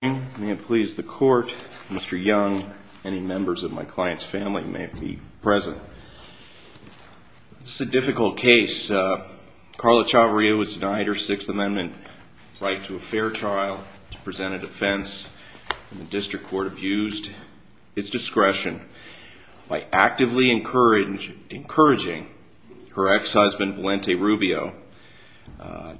May it please the court, Mr. Young, any members of my client's family may be present. This is a difficult case. Carla Chavarria was denied her Sixth Amendment right to a fair trial, to present a defense, and the district court abused its discretion by actively encouraging her ex-husband, Valente Rubio,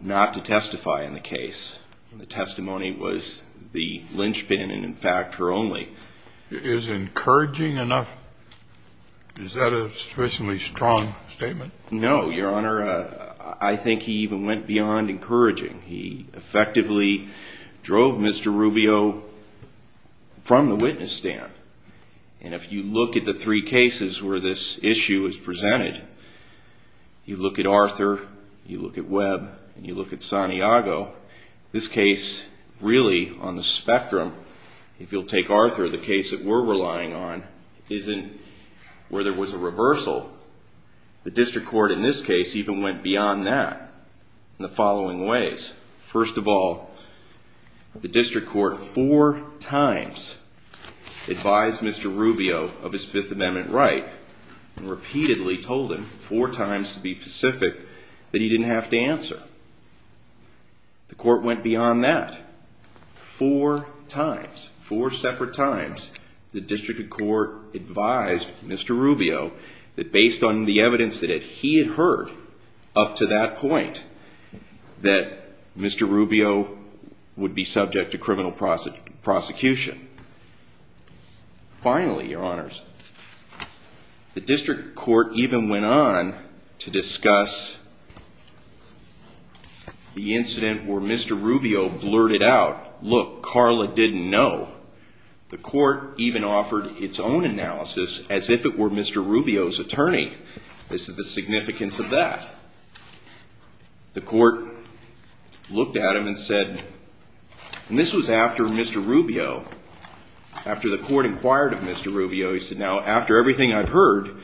not to testify in the case. The testimony was the linchpin and, in fact, her only. Is encouraging enough? Is that a sufficiently strong statement? No, Your Honor. I think he even went beyond encouraging. He effectively drove Mr. Rubio from the witness stand. And if you look at the three cases where this issue is presented, you look at Arthur, you look at Webb, and you look at Santiago, this case, really, on the spectrum, if you'll take Arthur, the case that we're relying on, isn't where there was a reversal. The district court in this case even went beyond that in the following ways. First of all, the district court four times advised Mr. Rubio of his Fifth Amendment right, and repeatedly told him, four times to be specific, that he didn't have to answer. The court went beyond that. Four times, four separate times, the district court advised Mr. Rubio that based on the evidence that he had heard up to that point, that Mr. Rubio would be subject to criminal prosecution. Finally, Your Honors, the district court even went on to discuss the incident where Mr. Rubio blurted out, look, Carla didn't know. The court even offered its own analysis as if it were Mr. Rubio's attorney. This is the significance of that. The court looked at him and said, and this was after Mr. Rubio, after the court inquired of Mr. Rubio, he said, now, after everything I've heard,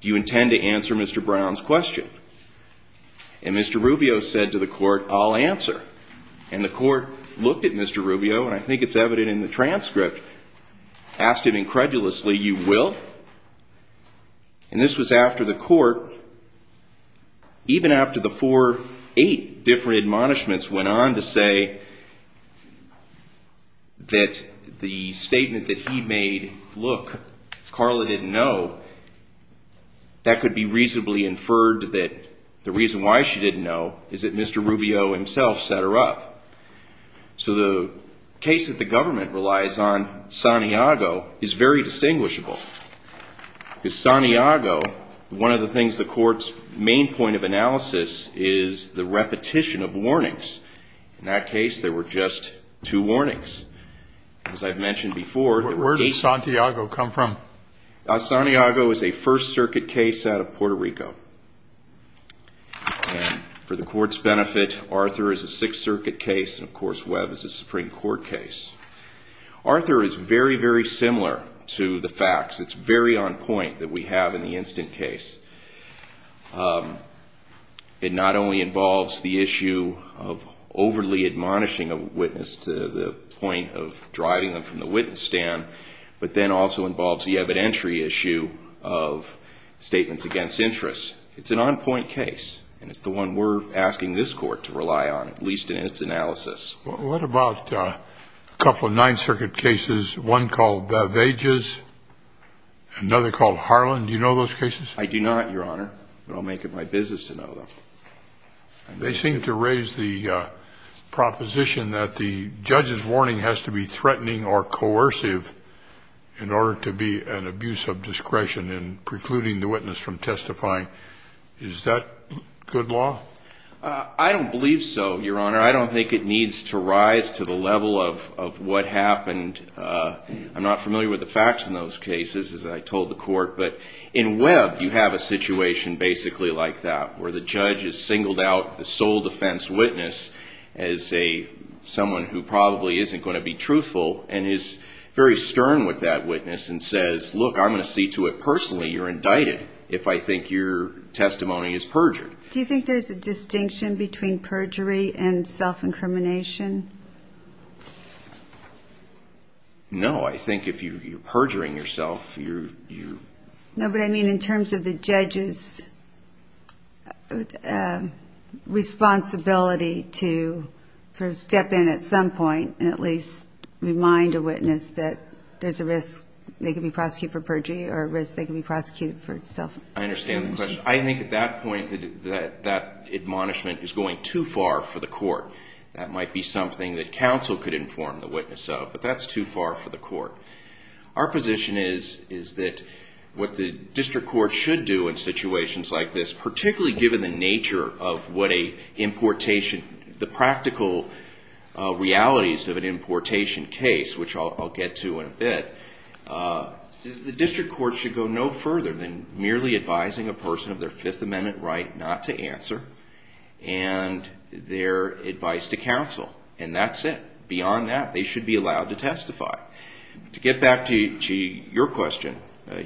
do you intend to answer Mr. Brown's question? And Mr. Rubio said to the court, I'll answer. And the court looked at Mr. Rubio, and I think it's evident in the transcript, asked him incredulously, you will? And this was after the court, even after the four, eight different admonishments went on to say that the statement that he made, look, Carla didn't know, that could be reasonably inferred that the reason why she didn't know is that Mr. Rubio himself set her up. So the case that the government relies on, Santiago, is very distinguishable. Because Santiago, one of the things the court's main point of analysis is the repetition of warnings. In that case, there were just two warnings, as I've mentioned before. Where did Santiago come from? Santiago is a First Circuit case out of Puerto Rico. And for the court's benefit, Arthur is a Sixth Circuit case, and of course, Webb is a Supreme Court case. Arthur is very, very similar to the facts. It's very on point that we have in the instant case. It not only involves the issue of overly admonishing a witness to the point of driving them from the witness stand, but then also involves the evidentiary issue of statements against interest. It's an on point case, and it's the one we're asking this court to rely on, at least in its analysis. What about a couple of Ninth Circuit cases, one called Vages, another called Harlan? Do you know those cases? I do not, Your Honor, but I'll make it my business to know them. They seem to raise the proposition that the judge's warning has to be threatening or coercive in order to be an abuse of discretion in precluding the witness from testifying. Is that good law? I don't believe so, Your Honor. I don't think it needs to rise to the level of what happened. I'm not familiar with the facts in those cases, as I told the court, but in Webb, you have a situation basically like that, where the judge has singled out the sole defense witness as someone who probably isn't going to be truthful and is very stern with that witness and says, look, I'm going to see to it personally you're indicted if I think your testimony is perjured. Do you think there's a distinction between perjury and self-incrimination? No. I think if you're perjuring yourself, you're ---- No, but I mean in terms of the judge's responsibility to sort of step in at some point and at least remind a witness that there's a risk they could be prosecuted for perjury or a risk they could be prosecuted for self-incrimination. I understand the question. I think at that point, that admonishment is going too far for the court. That might be something that counsel could inform the witness of, but that's too far for the court. Our position is that what the district court should do in situations like this, particularly given the nature of what a importation, the practical realities of an importation case, which I'll get to in a bit, the district court should go no further than merely advising a person of their Fifth Amendment right not to answer and their advice to counsel, and that's it. Beyond that, they should be allowed to testify. To get back to your question,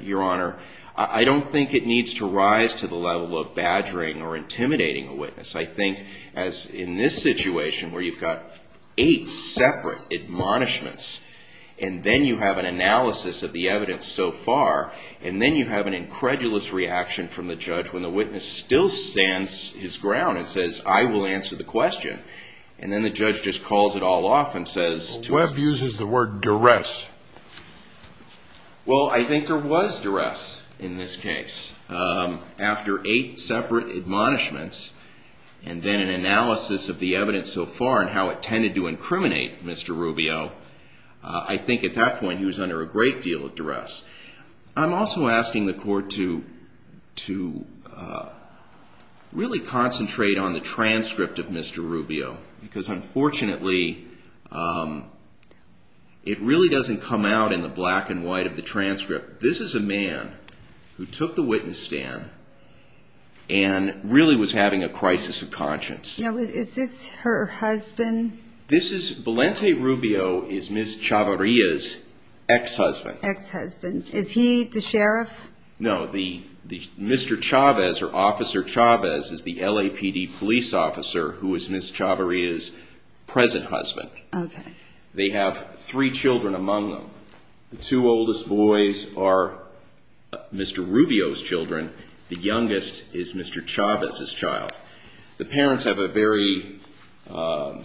Your Honor, I don't think it needs to rise to the level of badgering or intimidating a witness. I think as in this situation where you've got eight separate admonishments and then you have an analysis of the evidence so far and then you have an incredulous reaction from the judge when the witness still stands his ground and says, I will answer the question, and then the judge just calls it all off and says... Webb uses the word duress. Well, I think there was duress in this case. After eight separate admonishments and then an analysis of the evidence so far and how it tended to incriminate Mr. Rubio, I think at that point he was under a great deal of duress. I'm also asking the court to really concentrate on the transcript of Mr. Rubio because unfortunately it really doesn't come out in the black and white of the transcript. This is a man who took the witness stand and really was having a crisis of conscience. Now, is this her husband? Valente Rubio is Ms. Chavarria's ex-husband. Ex-husband. Is he the sheriff? No. Mr. Chavez or Officer Chavez is the LAPD police officer who is Ms. Chavarria's present husband. Okay. They have three children among them. The two oldest boys are Mr. Rubio's children. The youngest is Mr. Chavez's child. The parents have a very, how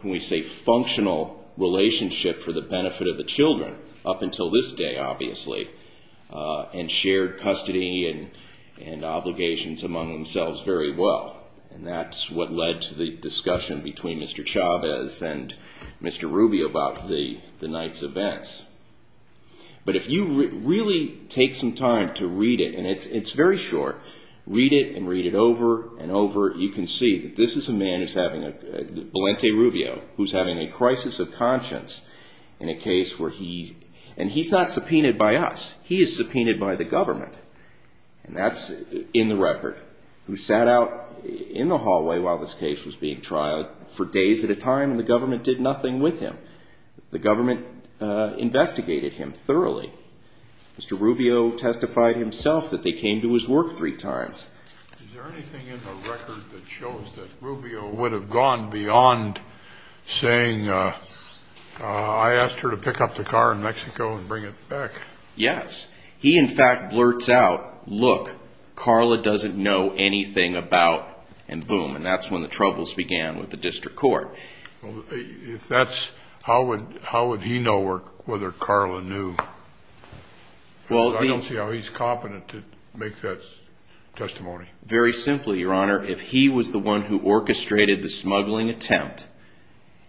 can we say, functional relationship for the benefit of the children up until this day, obviously, and shared custody and obligations among themselves very well. And that's what led to the discussion between Mr. Chavez and Mr. Rubio about the night's events. But if you really take some time to read it, and it's very short, read it and read it over and over, you can see that this is a man, Valente Rubio, who's having a crisis of conscience in a case where he, and he's not subpoenaed by us. He is subpoenaed by the government. And that's in the record. Who sat out in the hallway while this case was being trialed for days at a time, and the government did nothing with him. The government investigated him thoroughly. Mr. Rubio testified himself that they came to his work three times. Is there anything in the record that shows that Rubio would have gone beyond saying, I asked her to pick up the car in Mexico and bring it back? Yes. He, in fact, blurts out, look, Carla doesn't know anything about, and boom. And that's when the troubles began with the district court. If that's, how would he know whether Carla knew? Because I don't see how he's competent to make that testimony. Very simply, Your Honor, if he was the one who orchestrated the smuggling attempt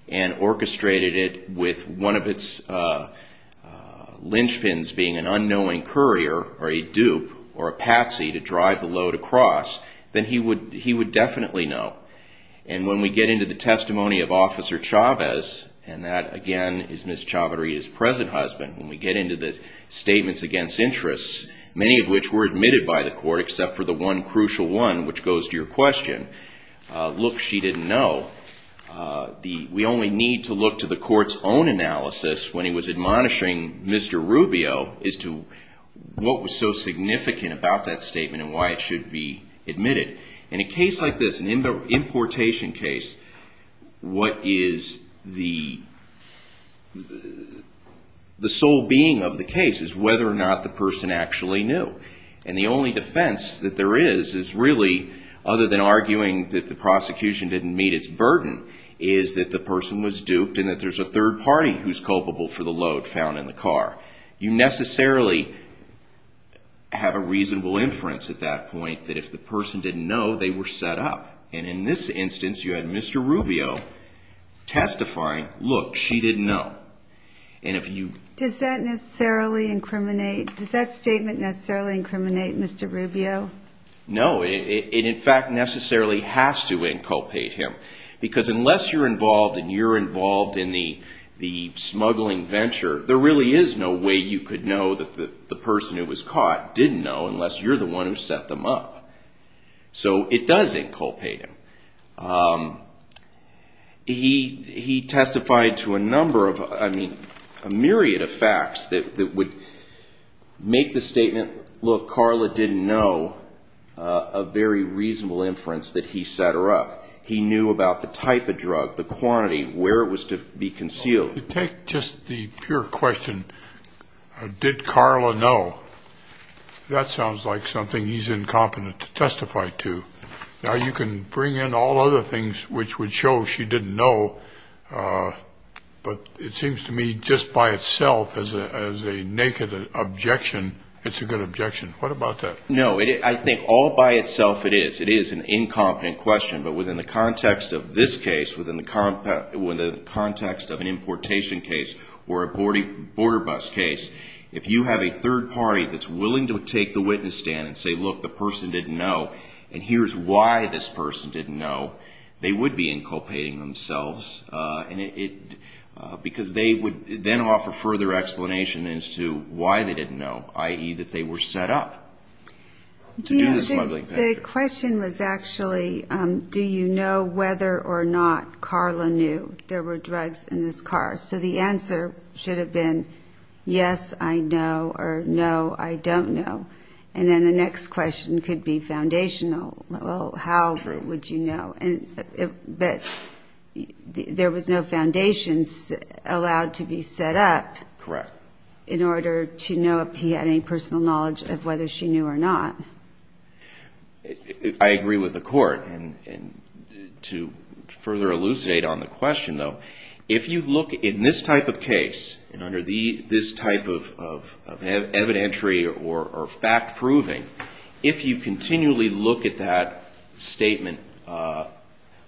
and orchestrated it with one of its linchpins being an unknowing courier or a dupe or a patsy to drive the load across, then he would definitely know. And when we get into the testimony of Officer Chavez, and that, again, is Ms. Chavarria's present husband, when we get into the statements against interests, many of which were admitted by the court except for the one crucial one, which goes to your question, look, she didn't know. We only need to look to the court's own analysis when he was admonishing Mr. Rubio as to what was so significant about that statement and why it should be admitted. In a case like this, an importation case, what is the sole being of the case is whether or not the person actually knew. And the only defense that there is is really, other than arguing that the prosecution didn't meet its burden, is that the person was duped and that there's a third party who's culpable for the load found in the car. You necessarily have a reasonable inference at that point that if the person didn't know, they were set up. And in this instance, you had Mr. Rubio testifying, look, she didn't know. Does that statement necessarily incriminate Mr. Rubio? No. It, in fact, necessarily has to inculpate him because unless you're involved and you're involved in the smuggling venture, there really is no way you could know that the person who was caught didn't know unless you're the one who set them up. So it does inculpate him. He testified to a number of, I mean, a myriad of facts that would make the statement, look, Carla didn't know a very reasonable inference that he set her up. He knew about the type of drug, the quantity, where it was to be concealed. If you take just the pure question, did Carla know, that sounds like something he's incompetent to testify to. Now, you can bring in all other things which would show she didn't know, but it seems to me just by itself as a naked objection, it's a good objection. What about that? No, I think all by itself it is. It is an incompetent question, but within the context of this case, within the context of an importation case or a border bus case, if you have a third party that's willing to take the witness stand and say, look, the person didn't know, and here's why this person didn't know, they would be inculpating themselves, because they would then offer further explanation as to why they didn't know, i.e., that they were set up to do the smuggling venture. The question was actually, do you know whether or not Carla knew there were drugs in this car? So the answer should have been, yes, I know, or no, I don't know. And then the next question could be foundational. Well, how would you know? But there was no foundation allowed to be set up in order to know if he had any personal knowledge of whether she knew or not. I agree with the Court. And to further elucidate on the question, though, if you look in this type of case, and under this type of evidentiary or fact-proving, if you continually look at that statement,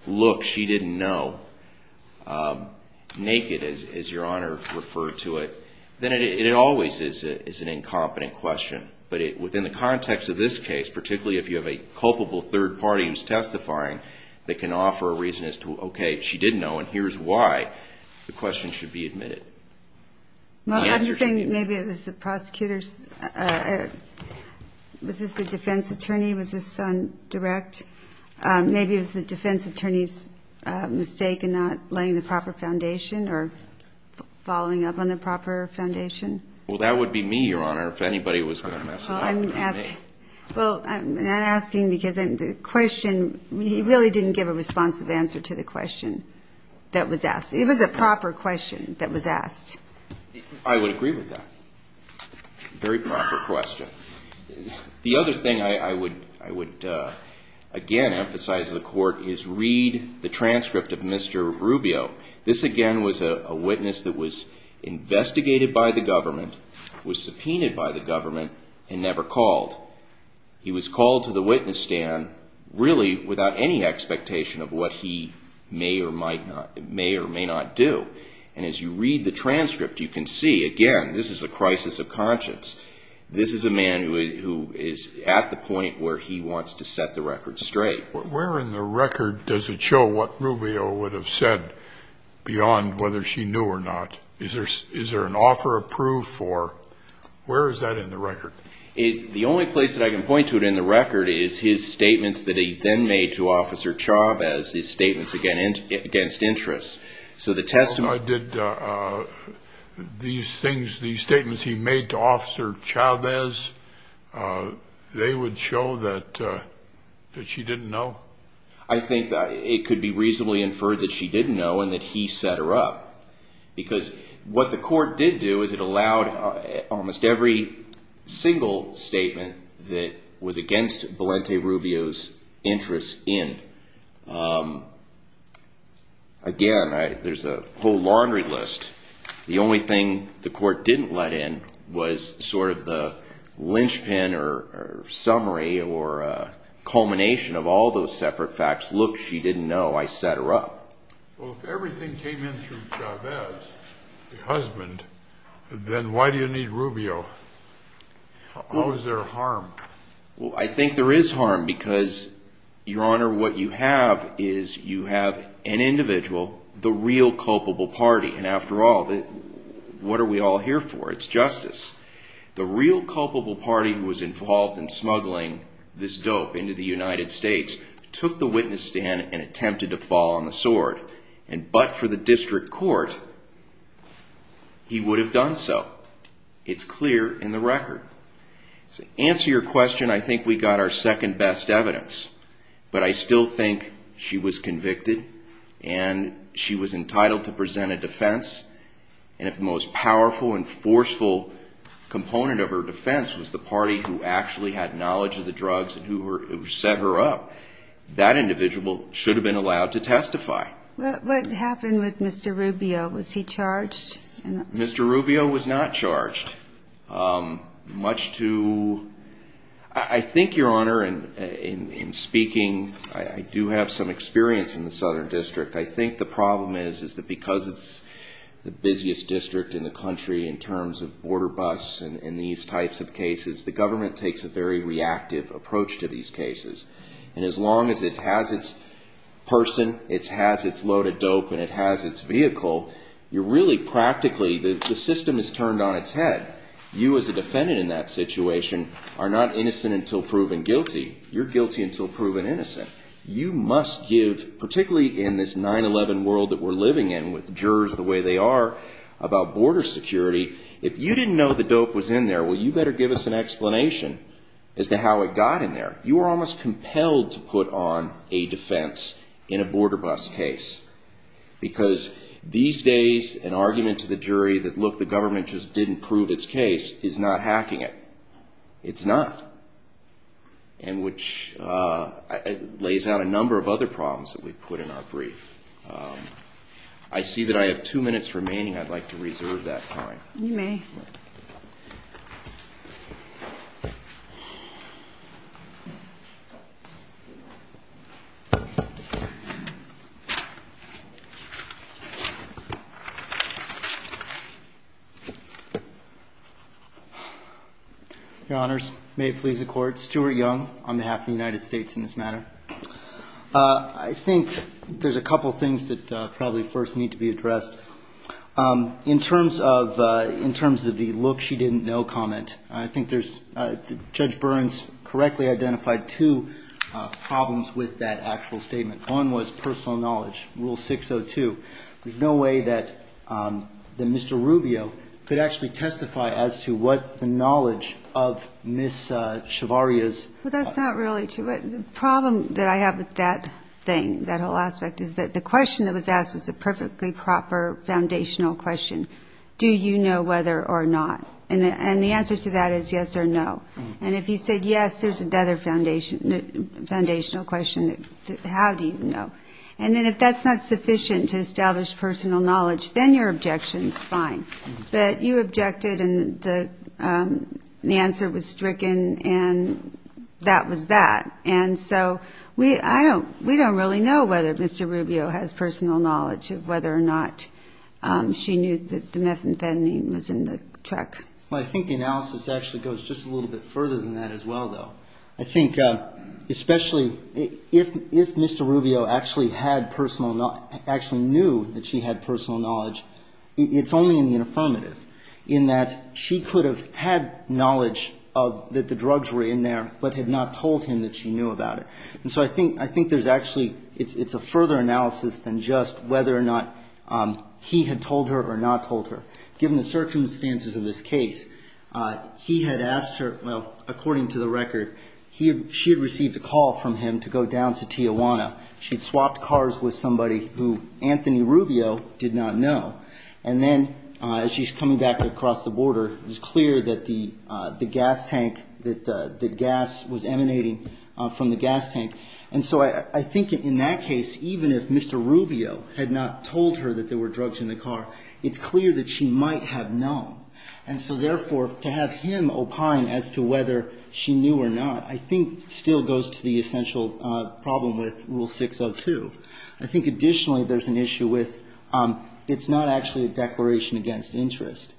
look, she didn't know, naked, as Your Honor referred to it, then it always is an incompetent question. But within the context of this case, particularly if you have a culpable third party who's testifying, that can offer a reason as to, okay, she didn't know, and here's why, the question should be admitted. Well, I'm saying maybe it was the prosecutor's, was this the defense attorney, was this on direct? Maybe it was the defense attorney's mistake in not laying the proper foundation or following up on the proper foundation. Well, that would be me, Your Honor, if anybody was going to mess it up. Well, I'm not asking because the question, he really didn't give a responsive answer to the question that was asked. It was a proper question that was asked. I would agree with that. Very proper question. The other thing I would, again, emphasize to the Court is read the transcript of Mr. Rubio. This, again, was a witness that was investigated by the government, was subpoenaed by the government, and never called. He was called to the witness stand really without any expectation of what he may or may not do. And as you read the transcript, you can see, again, this is a crisis of conscience. This is a man who is at the point where he wants to set the record straight. Where in the record does it show what Rubio would have said beyond whether she knew or not? Is there an offer approved for? Where is that in the record? The only place that I can point to it in the record is his statements that he then made to Officer Chavez, his statements against interests. These statements he made to Officer Chavez, they would show that she didn't know? I think it could be reasonably inferred that she didn't know and that he set her up. Because what the Court did do is it allowed almost every single statement that was against Valente Rubio's interests in. Again, there's a whole laundry list. The only thing the Court didn't let in was sort of the linchpin or summary or culmination of all those separate facts. Look, she didn't know. I set her up. Well, if everything came in through Chavez, the husband, then why do you need Rubio? How is there harm? Well, I think there is harm because, Your Honor, what you have is you have an individual, the real culpable party. And after all, what are we all here for? It's justice. The real culpable party who was involved in smuggling this dope into the United States took the witness stand and attempted to fall on the sword. But for the District Court, he would have done so. It's clear in the record. To answer your question, I think we got our second best evidence. But I still think she was convicted and she was entitled to present a defense. And if the most powerful and forceful component of her defense was the party who actually had knowledge of the drugs and who set her up, that individual should have been allowed to testify. What happened with Mr. Rubio? Was he charged? Mr. Rubio was not charged. Much to, I think, Your Honor, in speaking, I do have some experience in the Southern District. I think the problem is that because it's the busiest district in the country in terms of border busts and these types of cases, the government takes a very reactive approach to these cases. And as long as it has its person, it has its load of dope, and it has its vehicle, you're really practically, the system is turned on its head. You as a defendant in that situation are not innocent until proven guilty. You're guilty until proven innocent. You must give, particularly in this 9-11 world that we're living in with jurors the way they are about border security, if you didn't know the dope was in there, well, you better give us an explanation as to how it got in there. You are almost compelled to put on a defense in a border bust case because these days an argument to the jury that, look, the government just didn't prove its case is not hacking it. It's not. And which lays out a number of other problems that we've put in our brief. I see that I have two minutes remaining. I'd like to reserve that time. You may. Your Honors, may it please the Court, Stuart Young on behalf of the United States in this matter. I think there's a couple things that probably first need to be addressed. In terms of the look she didn't know comment, I think Judge Burns correctly identified two problems with that actual statement. One was personal knowledge, Rule 602. There's no way that Mr. Rubio could actually testify as to what the knowledge of Ms. Chevarria's. Well, that's not really true. The problem that I have with that thing, that whole aspect, is that the question that was asked was a perfectly proper foundational question. Do you know whether or not? And the answer to that is yes or no. And if he said yes, there's another foundational question, how do you know? And then if that's not sufficient to establish personal knowledge, then your objection is fine. But you objected and the answer was stricken and that was that. And so we don't really know whether Mr. Rubio has personal knowledge of whether or not she knew that the methamphetamine was in the truck. Well, I think the analysis actually goes just a little bit further than that as well, though. I think especially if Mr. Rubio actually had personal knowledge, actually knew that she had personal knowledge, it's only in the affirmative in that she could have had knowledge that the drugs were in there, but had not told him that she knew about it. And so I think there's actually, it's a further analysis than just whether or not he had told her or not told her. Given the circumstances of this case, he had asked her, well, according to the record, she had received a call from him to go down to Tijuana. She'd swapped cars with somebody who Anthony Rubio did not know. And then as she's coming back across the border, it was clear that the gas tank, that the gas was emanating from the gas tank. And so I think in that case, even if Mr. Rubio had not told her that there were drugs in the car, it's clear that she might have known. And so therefore, to have him opine as to whether she knew or not, I think still goes to the essential problem with Rule 602. I think additionally there's an issue with it's not actually a declaration against interest.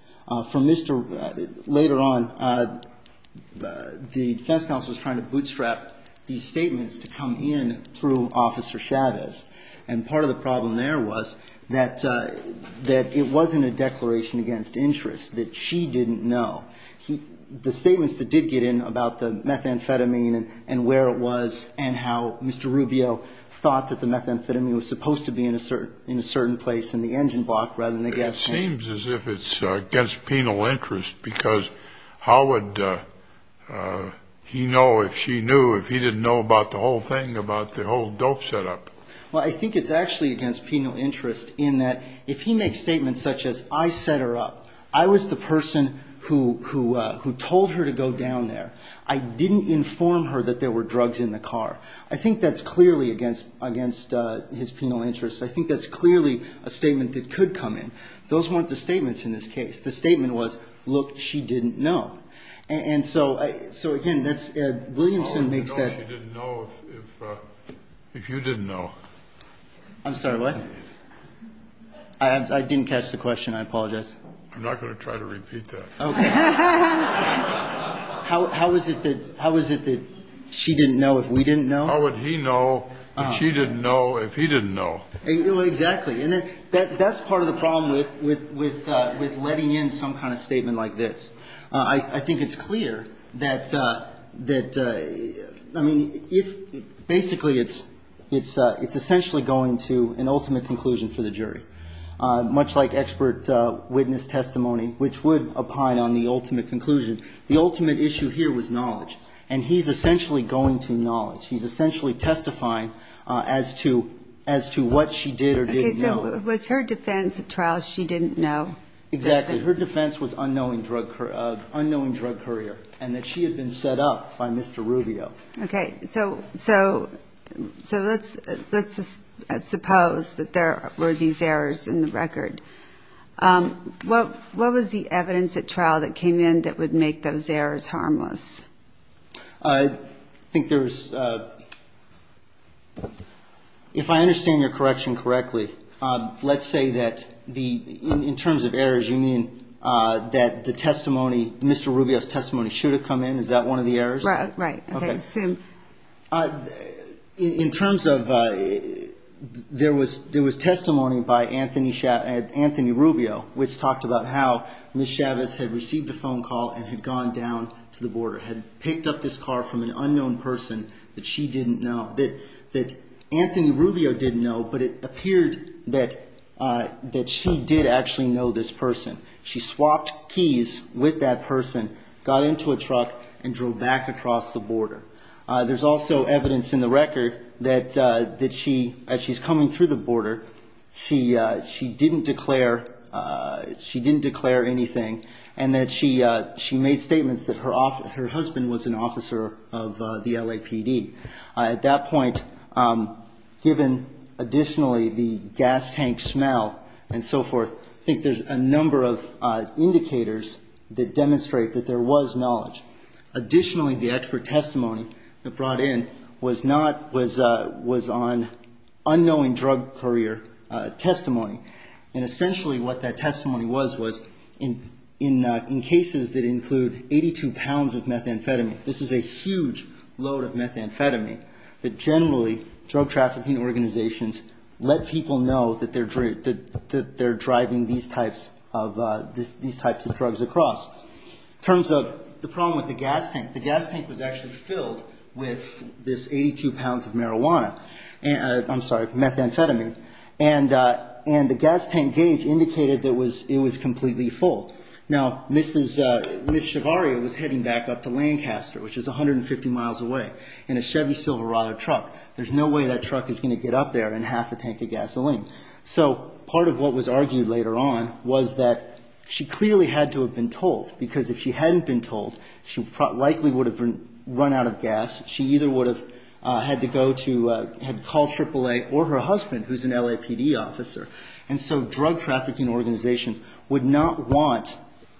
From Mr. — later on, the defense counsel was trying to bootstrap these statements to come in through Officer Chavez. And part of the problem there was that it wasn't a declaration against interest, that she didn't know. The statements that did get in about the methamphetamine and where it was and how Mr. Rubio thought that the methamphetamine was supposed to be in a certain place in the engine block rather than the gas tank. It seems as if it's against penal interest because how would he know if she knew if he didn't know about the whole thing, about the whole dope setup? Well, I think it's actually against penal interest in that if he makes statements such as, I set her up, I was the person who told her to go down there, I didn't inform her that there were drugs in the car. I think that's clearly against his penal interest. I think that's clearly a statement that could come in. Those weren't the statements in this case. The statement was, look, she didn't know. And so, again, that's Ed Williamson makes that. I don't know if she didn't know if you didn't know. I'm sorry, what? I didn't catch the question. I apologize. I'm not going to try to repeat that. Okay. How is it that she didn't know if we didn't know? How would he know if she didn't know if he didn't know? Exactly. And that's part of the problem with letting in some kind of statement like this. I think it's clear that, I mean, if basically it's essentially going to an ultimate conclusion for the jury, much like expert witness testimony, which would opine on the ultimate conclusion. The ultimate issue here was knowledge. And he's essentially going to knowledge. He's essentially testifying as to what she did or didn't know. Okay. So was her defense at trial she didn't know? Exactly. Her defense was unknowing drug courier and that she had been set up by Mr. Rubio. Okay. So let's suppose that there were these errors in the record. What was the evidence at trial that came in that would make those errors harmless? I think there was, if I understand your correction correctly, let's say that in terms of errors, you mean that the testimony, Mr. Rubio's testimony, should have come in? Is that one of the errors? Right. Okay. In terms of, there was testimony by Anthony Rubio, which talked about how Ms. Chavez had received a phone call and had gone down to the border, had picked up this car from an unknown person that she didn't know, that Anthony Rubio didn't know, but it appeared that she did actually know this person. She swapped keys with that person, got into a truck, and drove back across the border. There's also evidence in the record that she, as she's coming through the border, she didn't declare anything and that she made statements that her husband was an officer of the LAPD. At that point, given additionally the gas tank smell and so forth, I think there's a number of indicators that demonstrate that there was knowledge. Additionally, the expert testimony that brought in was not, was on unknowing drug courier testimony. And essentially what that testimony was, was in cases that include 82 pounds of methamphetamine. This is a huge load of methamphetamine that generally drug trafficking organizations let people know that they're driving these types of drugs across. In terms of the problem with the gas tank, the gas tank was actually filled with this 82 pounds of marijuana, I'm sorry, methamphetamine, and the gas tank gauge indicated that it was completely full. Now, Mrs. Shavaria was heading back up to Lancaster, which is 150 miles away, in a Chevy Silverado truck. There's no way that truck is going to get up there and half a tank of gasoline. So part of what was argued later on was that she clearly had to have been told, because if she hadn't been told, she likely would have run out of gas. She either would have had to go to, had to call AAA or her husband, who's an LAPD officer. And so drug trafficking organizations would not want,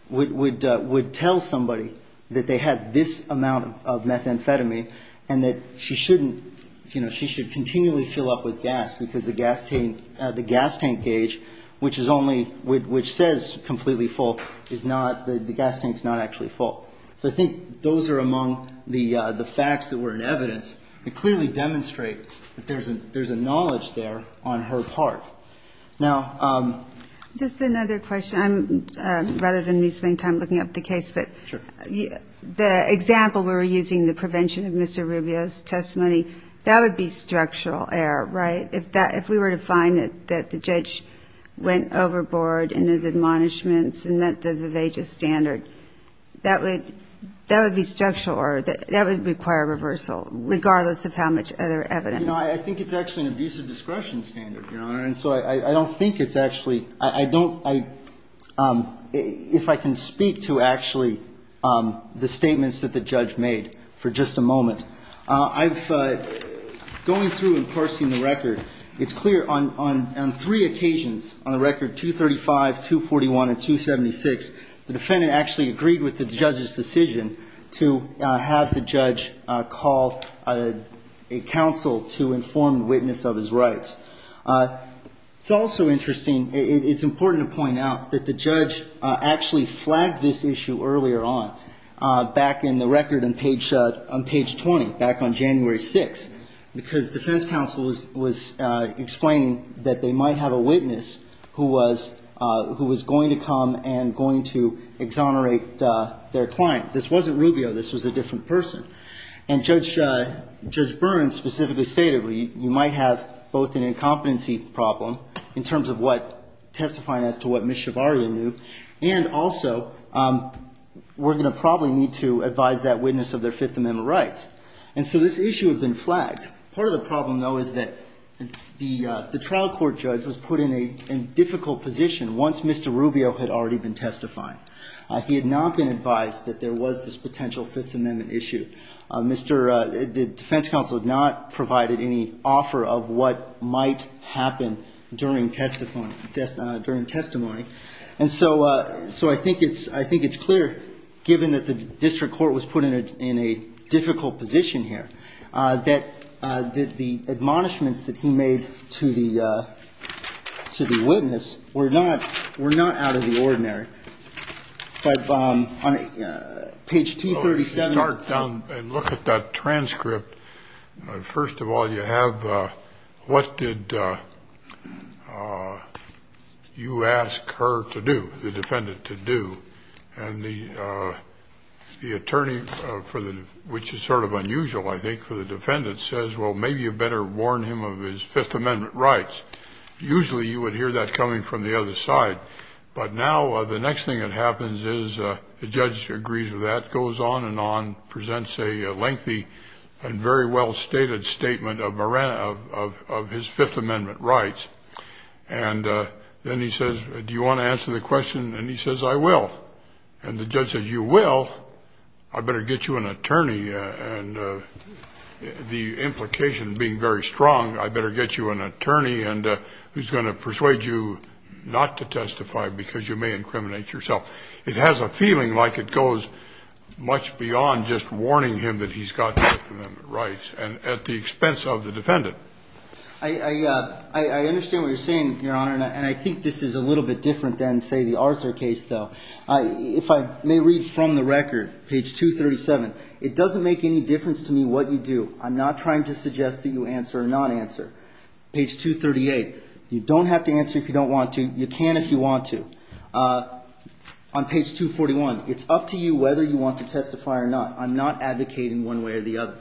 would tell somebody that they had this amount of methamphetamine and that she shouldn't, you know, she should continually fill up with gas, because the gas tank, the gas tank gauge, which is only, which says completely full, is not, the gas tank's not actually full. So I think those are among the facts that were in evidence to clearly demonstrate that there's a knowledge there on her part. Now --" Just another question. I'm, rather than me spending time looking up the case, but the example we were using, the prevention of Mr. Rubio's testimony, that would be structural error, right? If that, if we were to find that the judge went overboard in his admonishments and met the vivacious standard, that would, that would be structural error. That would require reversal, regardless of how much other evidence. You know, I think it's actually an abusive discretion standard, Your Honor, and so I don't think it's actually, I don't, I, if I can speak to actually the statements that the judge made for just a moment. I've, going through and parsing the record, it's clear on, on three occasions on the record, 235, 241, and 276, the defendant actually agreed with the judge's decision to have the judge call a counsel to the defense, to the defense, to the defense, to inform witness of his rights. It's also interesting, it's important to point out that the judge actually flagged this issue earlier on, back in the record on page, on page 20, back on January 6th, because defense counsel was, was explaining that they might have a witness who was, who was going to come and going to exonerate their client. This wasn't Rubio, this was a different person. And Judge, Judge Burns specifically stated, you might have both an incompetency problem in terms of what, testifying as to what Ms. Shavaria knew, and also, we're going to probably need to advise that witness of their Fifth Amendment rights. And so this issue had been flagged. Part of the problem, though, is that the, the trial court judge was put in a, in a difficult position once Mr. Rubio had already been testifying. He had not been advised that there was this potential Fifth Amendment issue. Mr., the defense counsel had not provided any offer of what might happen during testimony, during testimony. And so, so I think it's, I think it's clear, given that the district court was put in a, in a difficult position here, that, that the admonishments that he made to the, to the witness were not, were not out of the ordinary. But on page 237. Start down and look at that transcript. First of all, you have, what did you ask her to do, the defendant to do? And the, the attorney for the, which is sort of unusual, I think, for the defendant, says, well, maybe you better warn him of his Fifth Amendment rights. Usually you would hear that coming from the other side. But now the next thing that happens is the judge agrees with that, goes on and on, presents a lengthy and very well-stated statement of his Fifth Amendment rights. And then he says, do you want to answer the question? And he says, I will. And the judge says, you will? I better get you an attorney. And the implication being very strong, I better get you an attorney and who's going to persuade you not to testify because you may incriminate yourself. It has a feeling like it goes much beyond just warning him that he's got the Fifth Amendment rights. And at the expense of the defendant. I understand what you're saying, Your Honor. And I think this is a little bit different than, say, the Arthur case, though. If I may read from the record, page 237, it doesn't make any difference to me what you do. I'm not trying to suggest that you answer or not answer. Page 238, you don't have to answer if you don't want to. You can if you want to. On page 241, it's up to you whether you want to testify or not. I'm not advocating one way or the other.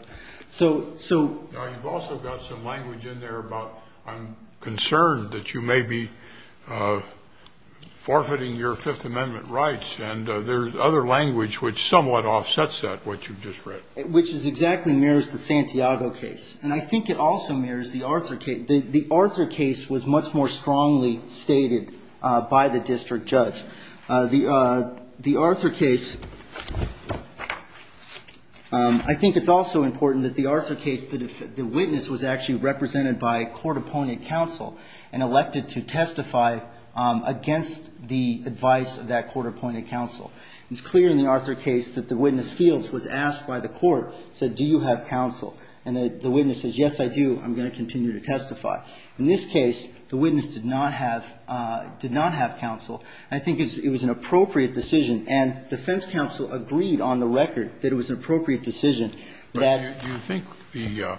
So so you've also got some language in there about I'm concerned that you may be forfeiting your Fifth Amendment rights, and there's other language which somewhat offsets that, what you've just read. Which is exactly mirrors the Santiago case. And I think it also mirrors the Arthur case. The Arthur case was much more strongly stated by the district judge. The Arthur case, I think it's also important that the Arthur case, the witness was actually represented by a court-appointed counsel and elected to testify against the advice of that court-appointed counsel. It's clear in the Arthur case that the witness Fields was asked by the court, said, do you have counsel? And the witness says, yes, I do. I'm going to continue to testify. In this case, the witness did not have did not have counsel. I think it was an appropriate decision. And defense counsel agreed on the record that it was an appropriate decision that you think the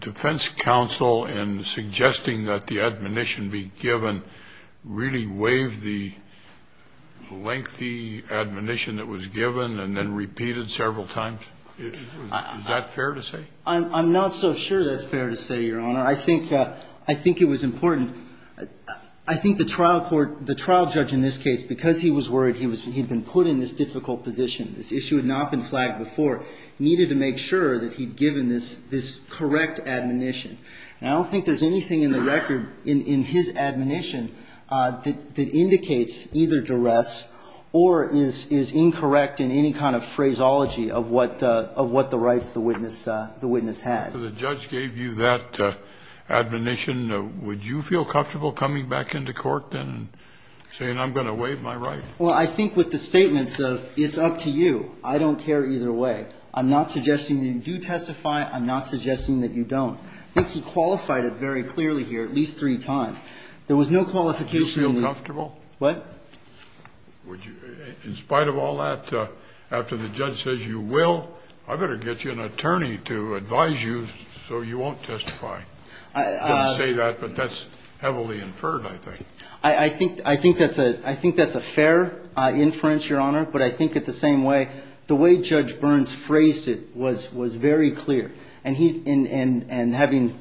defense counsel in suggesting that the admonition be given really waived the lengthy admonition that was given and then repeated several times? Is that fair to say? I'm not so sure that's fair to say, Your Honor. I think it was important. I think the trial court, the trial judge in this case, because he was worried he'd been put in this difficult position, this issue had not been flagged before, needed to make sure that he'd given this correct admonition. And I don't think there's anything in the record in his admonition that indicates either duress or is incorrect in any kind of phraseology of what the rights the witness had. So the judge gave you that admonition. Would you feel comfortable coming back into court and saying I'm going to waive my right? Well, I think with the statements of it's up to you, I don't care either way. I'm not suggesting that you do testify. I'm not suggesting that you don't. I think he qualified it very clearly here at least three times. There was no qualification. Do you feel comfortable? What? In spite of all that, after the judge says you will, I better get you an attorney to advise you so you won't testify. I didn't say that, but that's heavily inferred, I think. I think that's a fair inference, Your Honor. But I think in the same way, the way Judge Burns phrased it was very clear. And having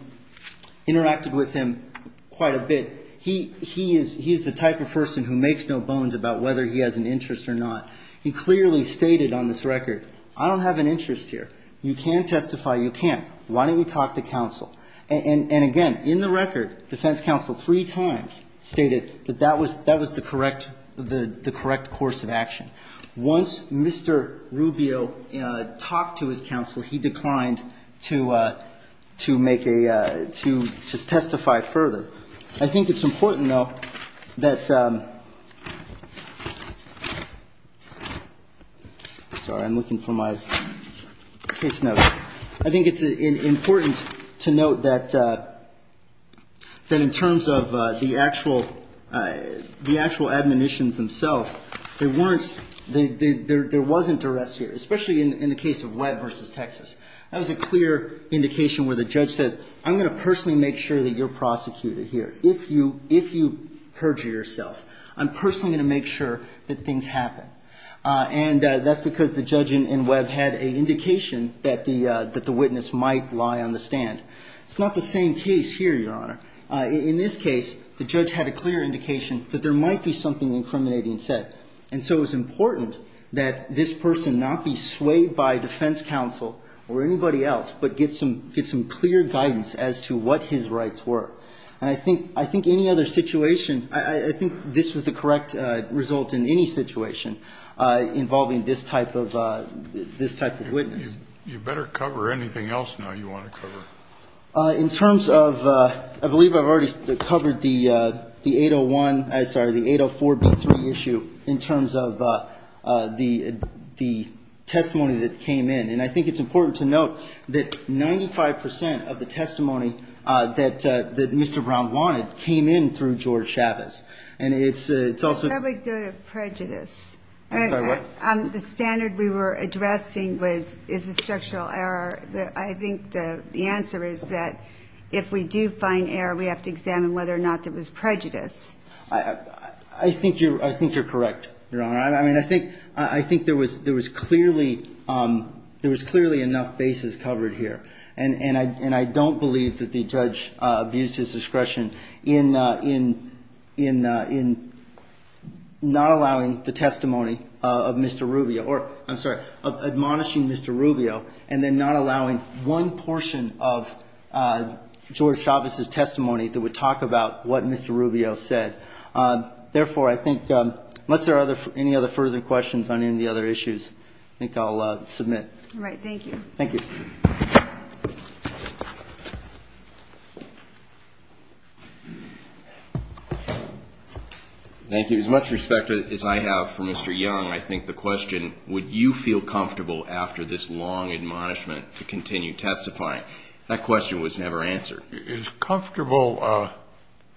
interacted with him quite a bit, he is the type of person who makes no bones about whether he has an interest or not. He clearly stated on this record, I don't have an interest here. You can testify, you can. Why don't you talk to counsel? And again, in the record, defense counsel three times stated that that was the correct course of action. Once Mr. Rubio talked to his counsel, he declined to make a, to testify further. I think it's important, though, that, sorry, I'm looking for my case notes. I think it's important to note that in terms of the actual, the actual admonitions themselves, there weren't, there wasn't duress here, especially in the case of Webb v. Texas. That was a clear indication where the judge says, I'm going to personally make sure that you're prosecuted here if you, if you perjure yourself. I'm personally going to make sure that things happen. And that's because the judge in Webb had an indication that the witness might lie on the stand. It's not the same case here, Your Honor. In this case, the judge had a clear indication that there might be something incriminating said. And so it was important that this person not be swayed by defense counsel or anybody else, but get some, get some clear guidance as to what his rights were. And I think, I think any other situation, I think this was the correct result in any situation involving this type of, this type of witness. You better cover anything else now you want to cover. In terms of, I believe I've already covered the 801, I'm sorry, the 804B3 issue in terms of the, the testimony that came in. And I think it's important to note that 95% of the testimony that, that Mr. Brown wanted came in through George Chavez. And it's, it's also. That would go to prejudice. I'm sorry, what? The standard we were addressing was, is a structural error. The, I think the, the answer is that if we do find error, we have to examine whether or not there was prejudice. I, I think you're, I think you're correct, Your Honor. I mean, I think, I think there was, there was clearly, there was clearly enough basis covered here. And, and I, and I don't believe that the judge abused his discretion in, in, in, in not allowing the testimony of Mr. Rubio, or I'm sorry, of admonishing Mr. Rubio, and then not allowing one portion of George Chavez's testimony that would talk about what Mr. Rubio said. Therefore, I think, unless there are other, any other further questions on any of the other issues, I think I'll submit. All right. Thank you. Thank you. Thank you. As much respect as I have for Mr. Young, I think the question, would you feel comfortable after this long admonishment to continue testifying? That question was never answered. Is comfortable,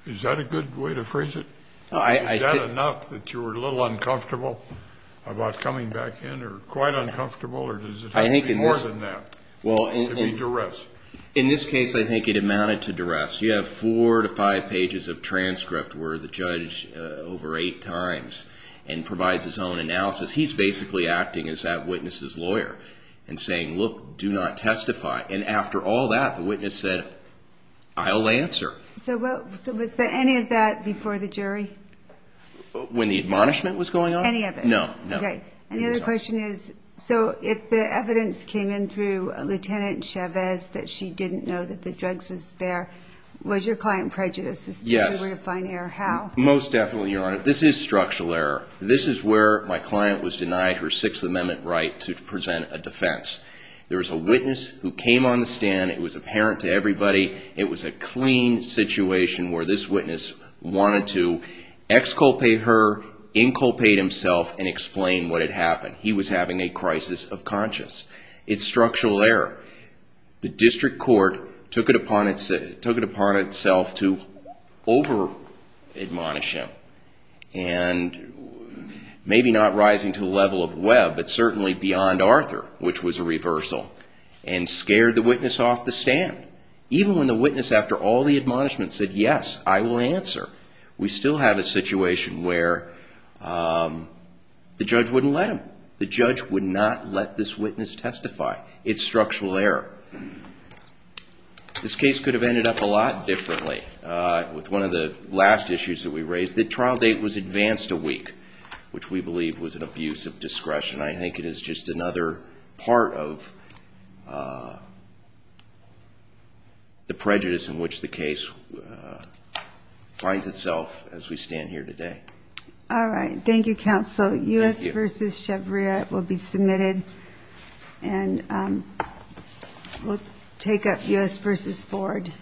is that a good way to phrase it? Is that enough that you were a little uncomfortable about coming back in, or quite uncomfortable, or does it have to be more than that to be duress? In this case, I think it amounted to duress. You have four to five pages of transcript where the judge, over eight times, and provides his own analysis. He's basically acting as that witness's lawyer and saying, look, do not testify. And after all that, the witness said, I'll answer. So was there any of that before the jury? When the admonishment was going on? Any of it. No, no. Okay. And the other question is, so if the evidence came in through Lieutenant Chavez that she didn't know that the drugs was there, was your client prejudiced as to where to find error? Yes. How? Most definitely, Your Honor. This is structural error. This is where my client was denied her Sixth Amendment right to present a defense. There was a witness who came on the stand. It was apparent to everybody. It was a clean situation where this witness wanted to exculpate her, inculpate himself, and explain what had happened. He was having a crisis of conscience. It's structural error. The district court took it upon itself to over-admonish him. And maybe not rising to the level of Webb, but certainly beyond Arthur, which was a reversal, and scared the witness off the stand. Even when the witness, after all the admonishment, said, yes, I will answer, we still have a situation where the judge wouldn't let him. The judge would not let this witness testify. It's structural error. This case could have ended up a lot differently. With one of the last issues that we raised, the trial date was advanced a week, which we believe was an abuse of discretion. I think it is just another part of the prejudice in which the case finds itself as we stand here today. All right. Thank you, Counsel. Thank you. So U.S. v. Shabria will be submitted, and we'll take up U.S. v. Ford.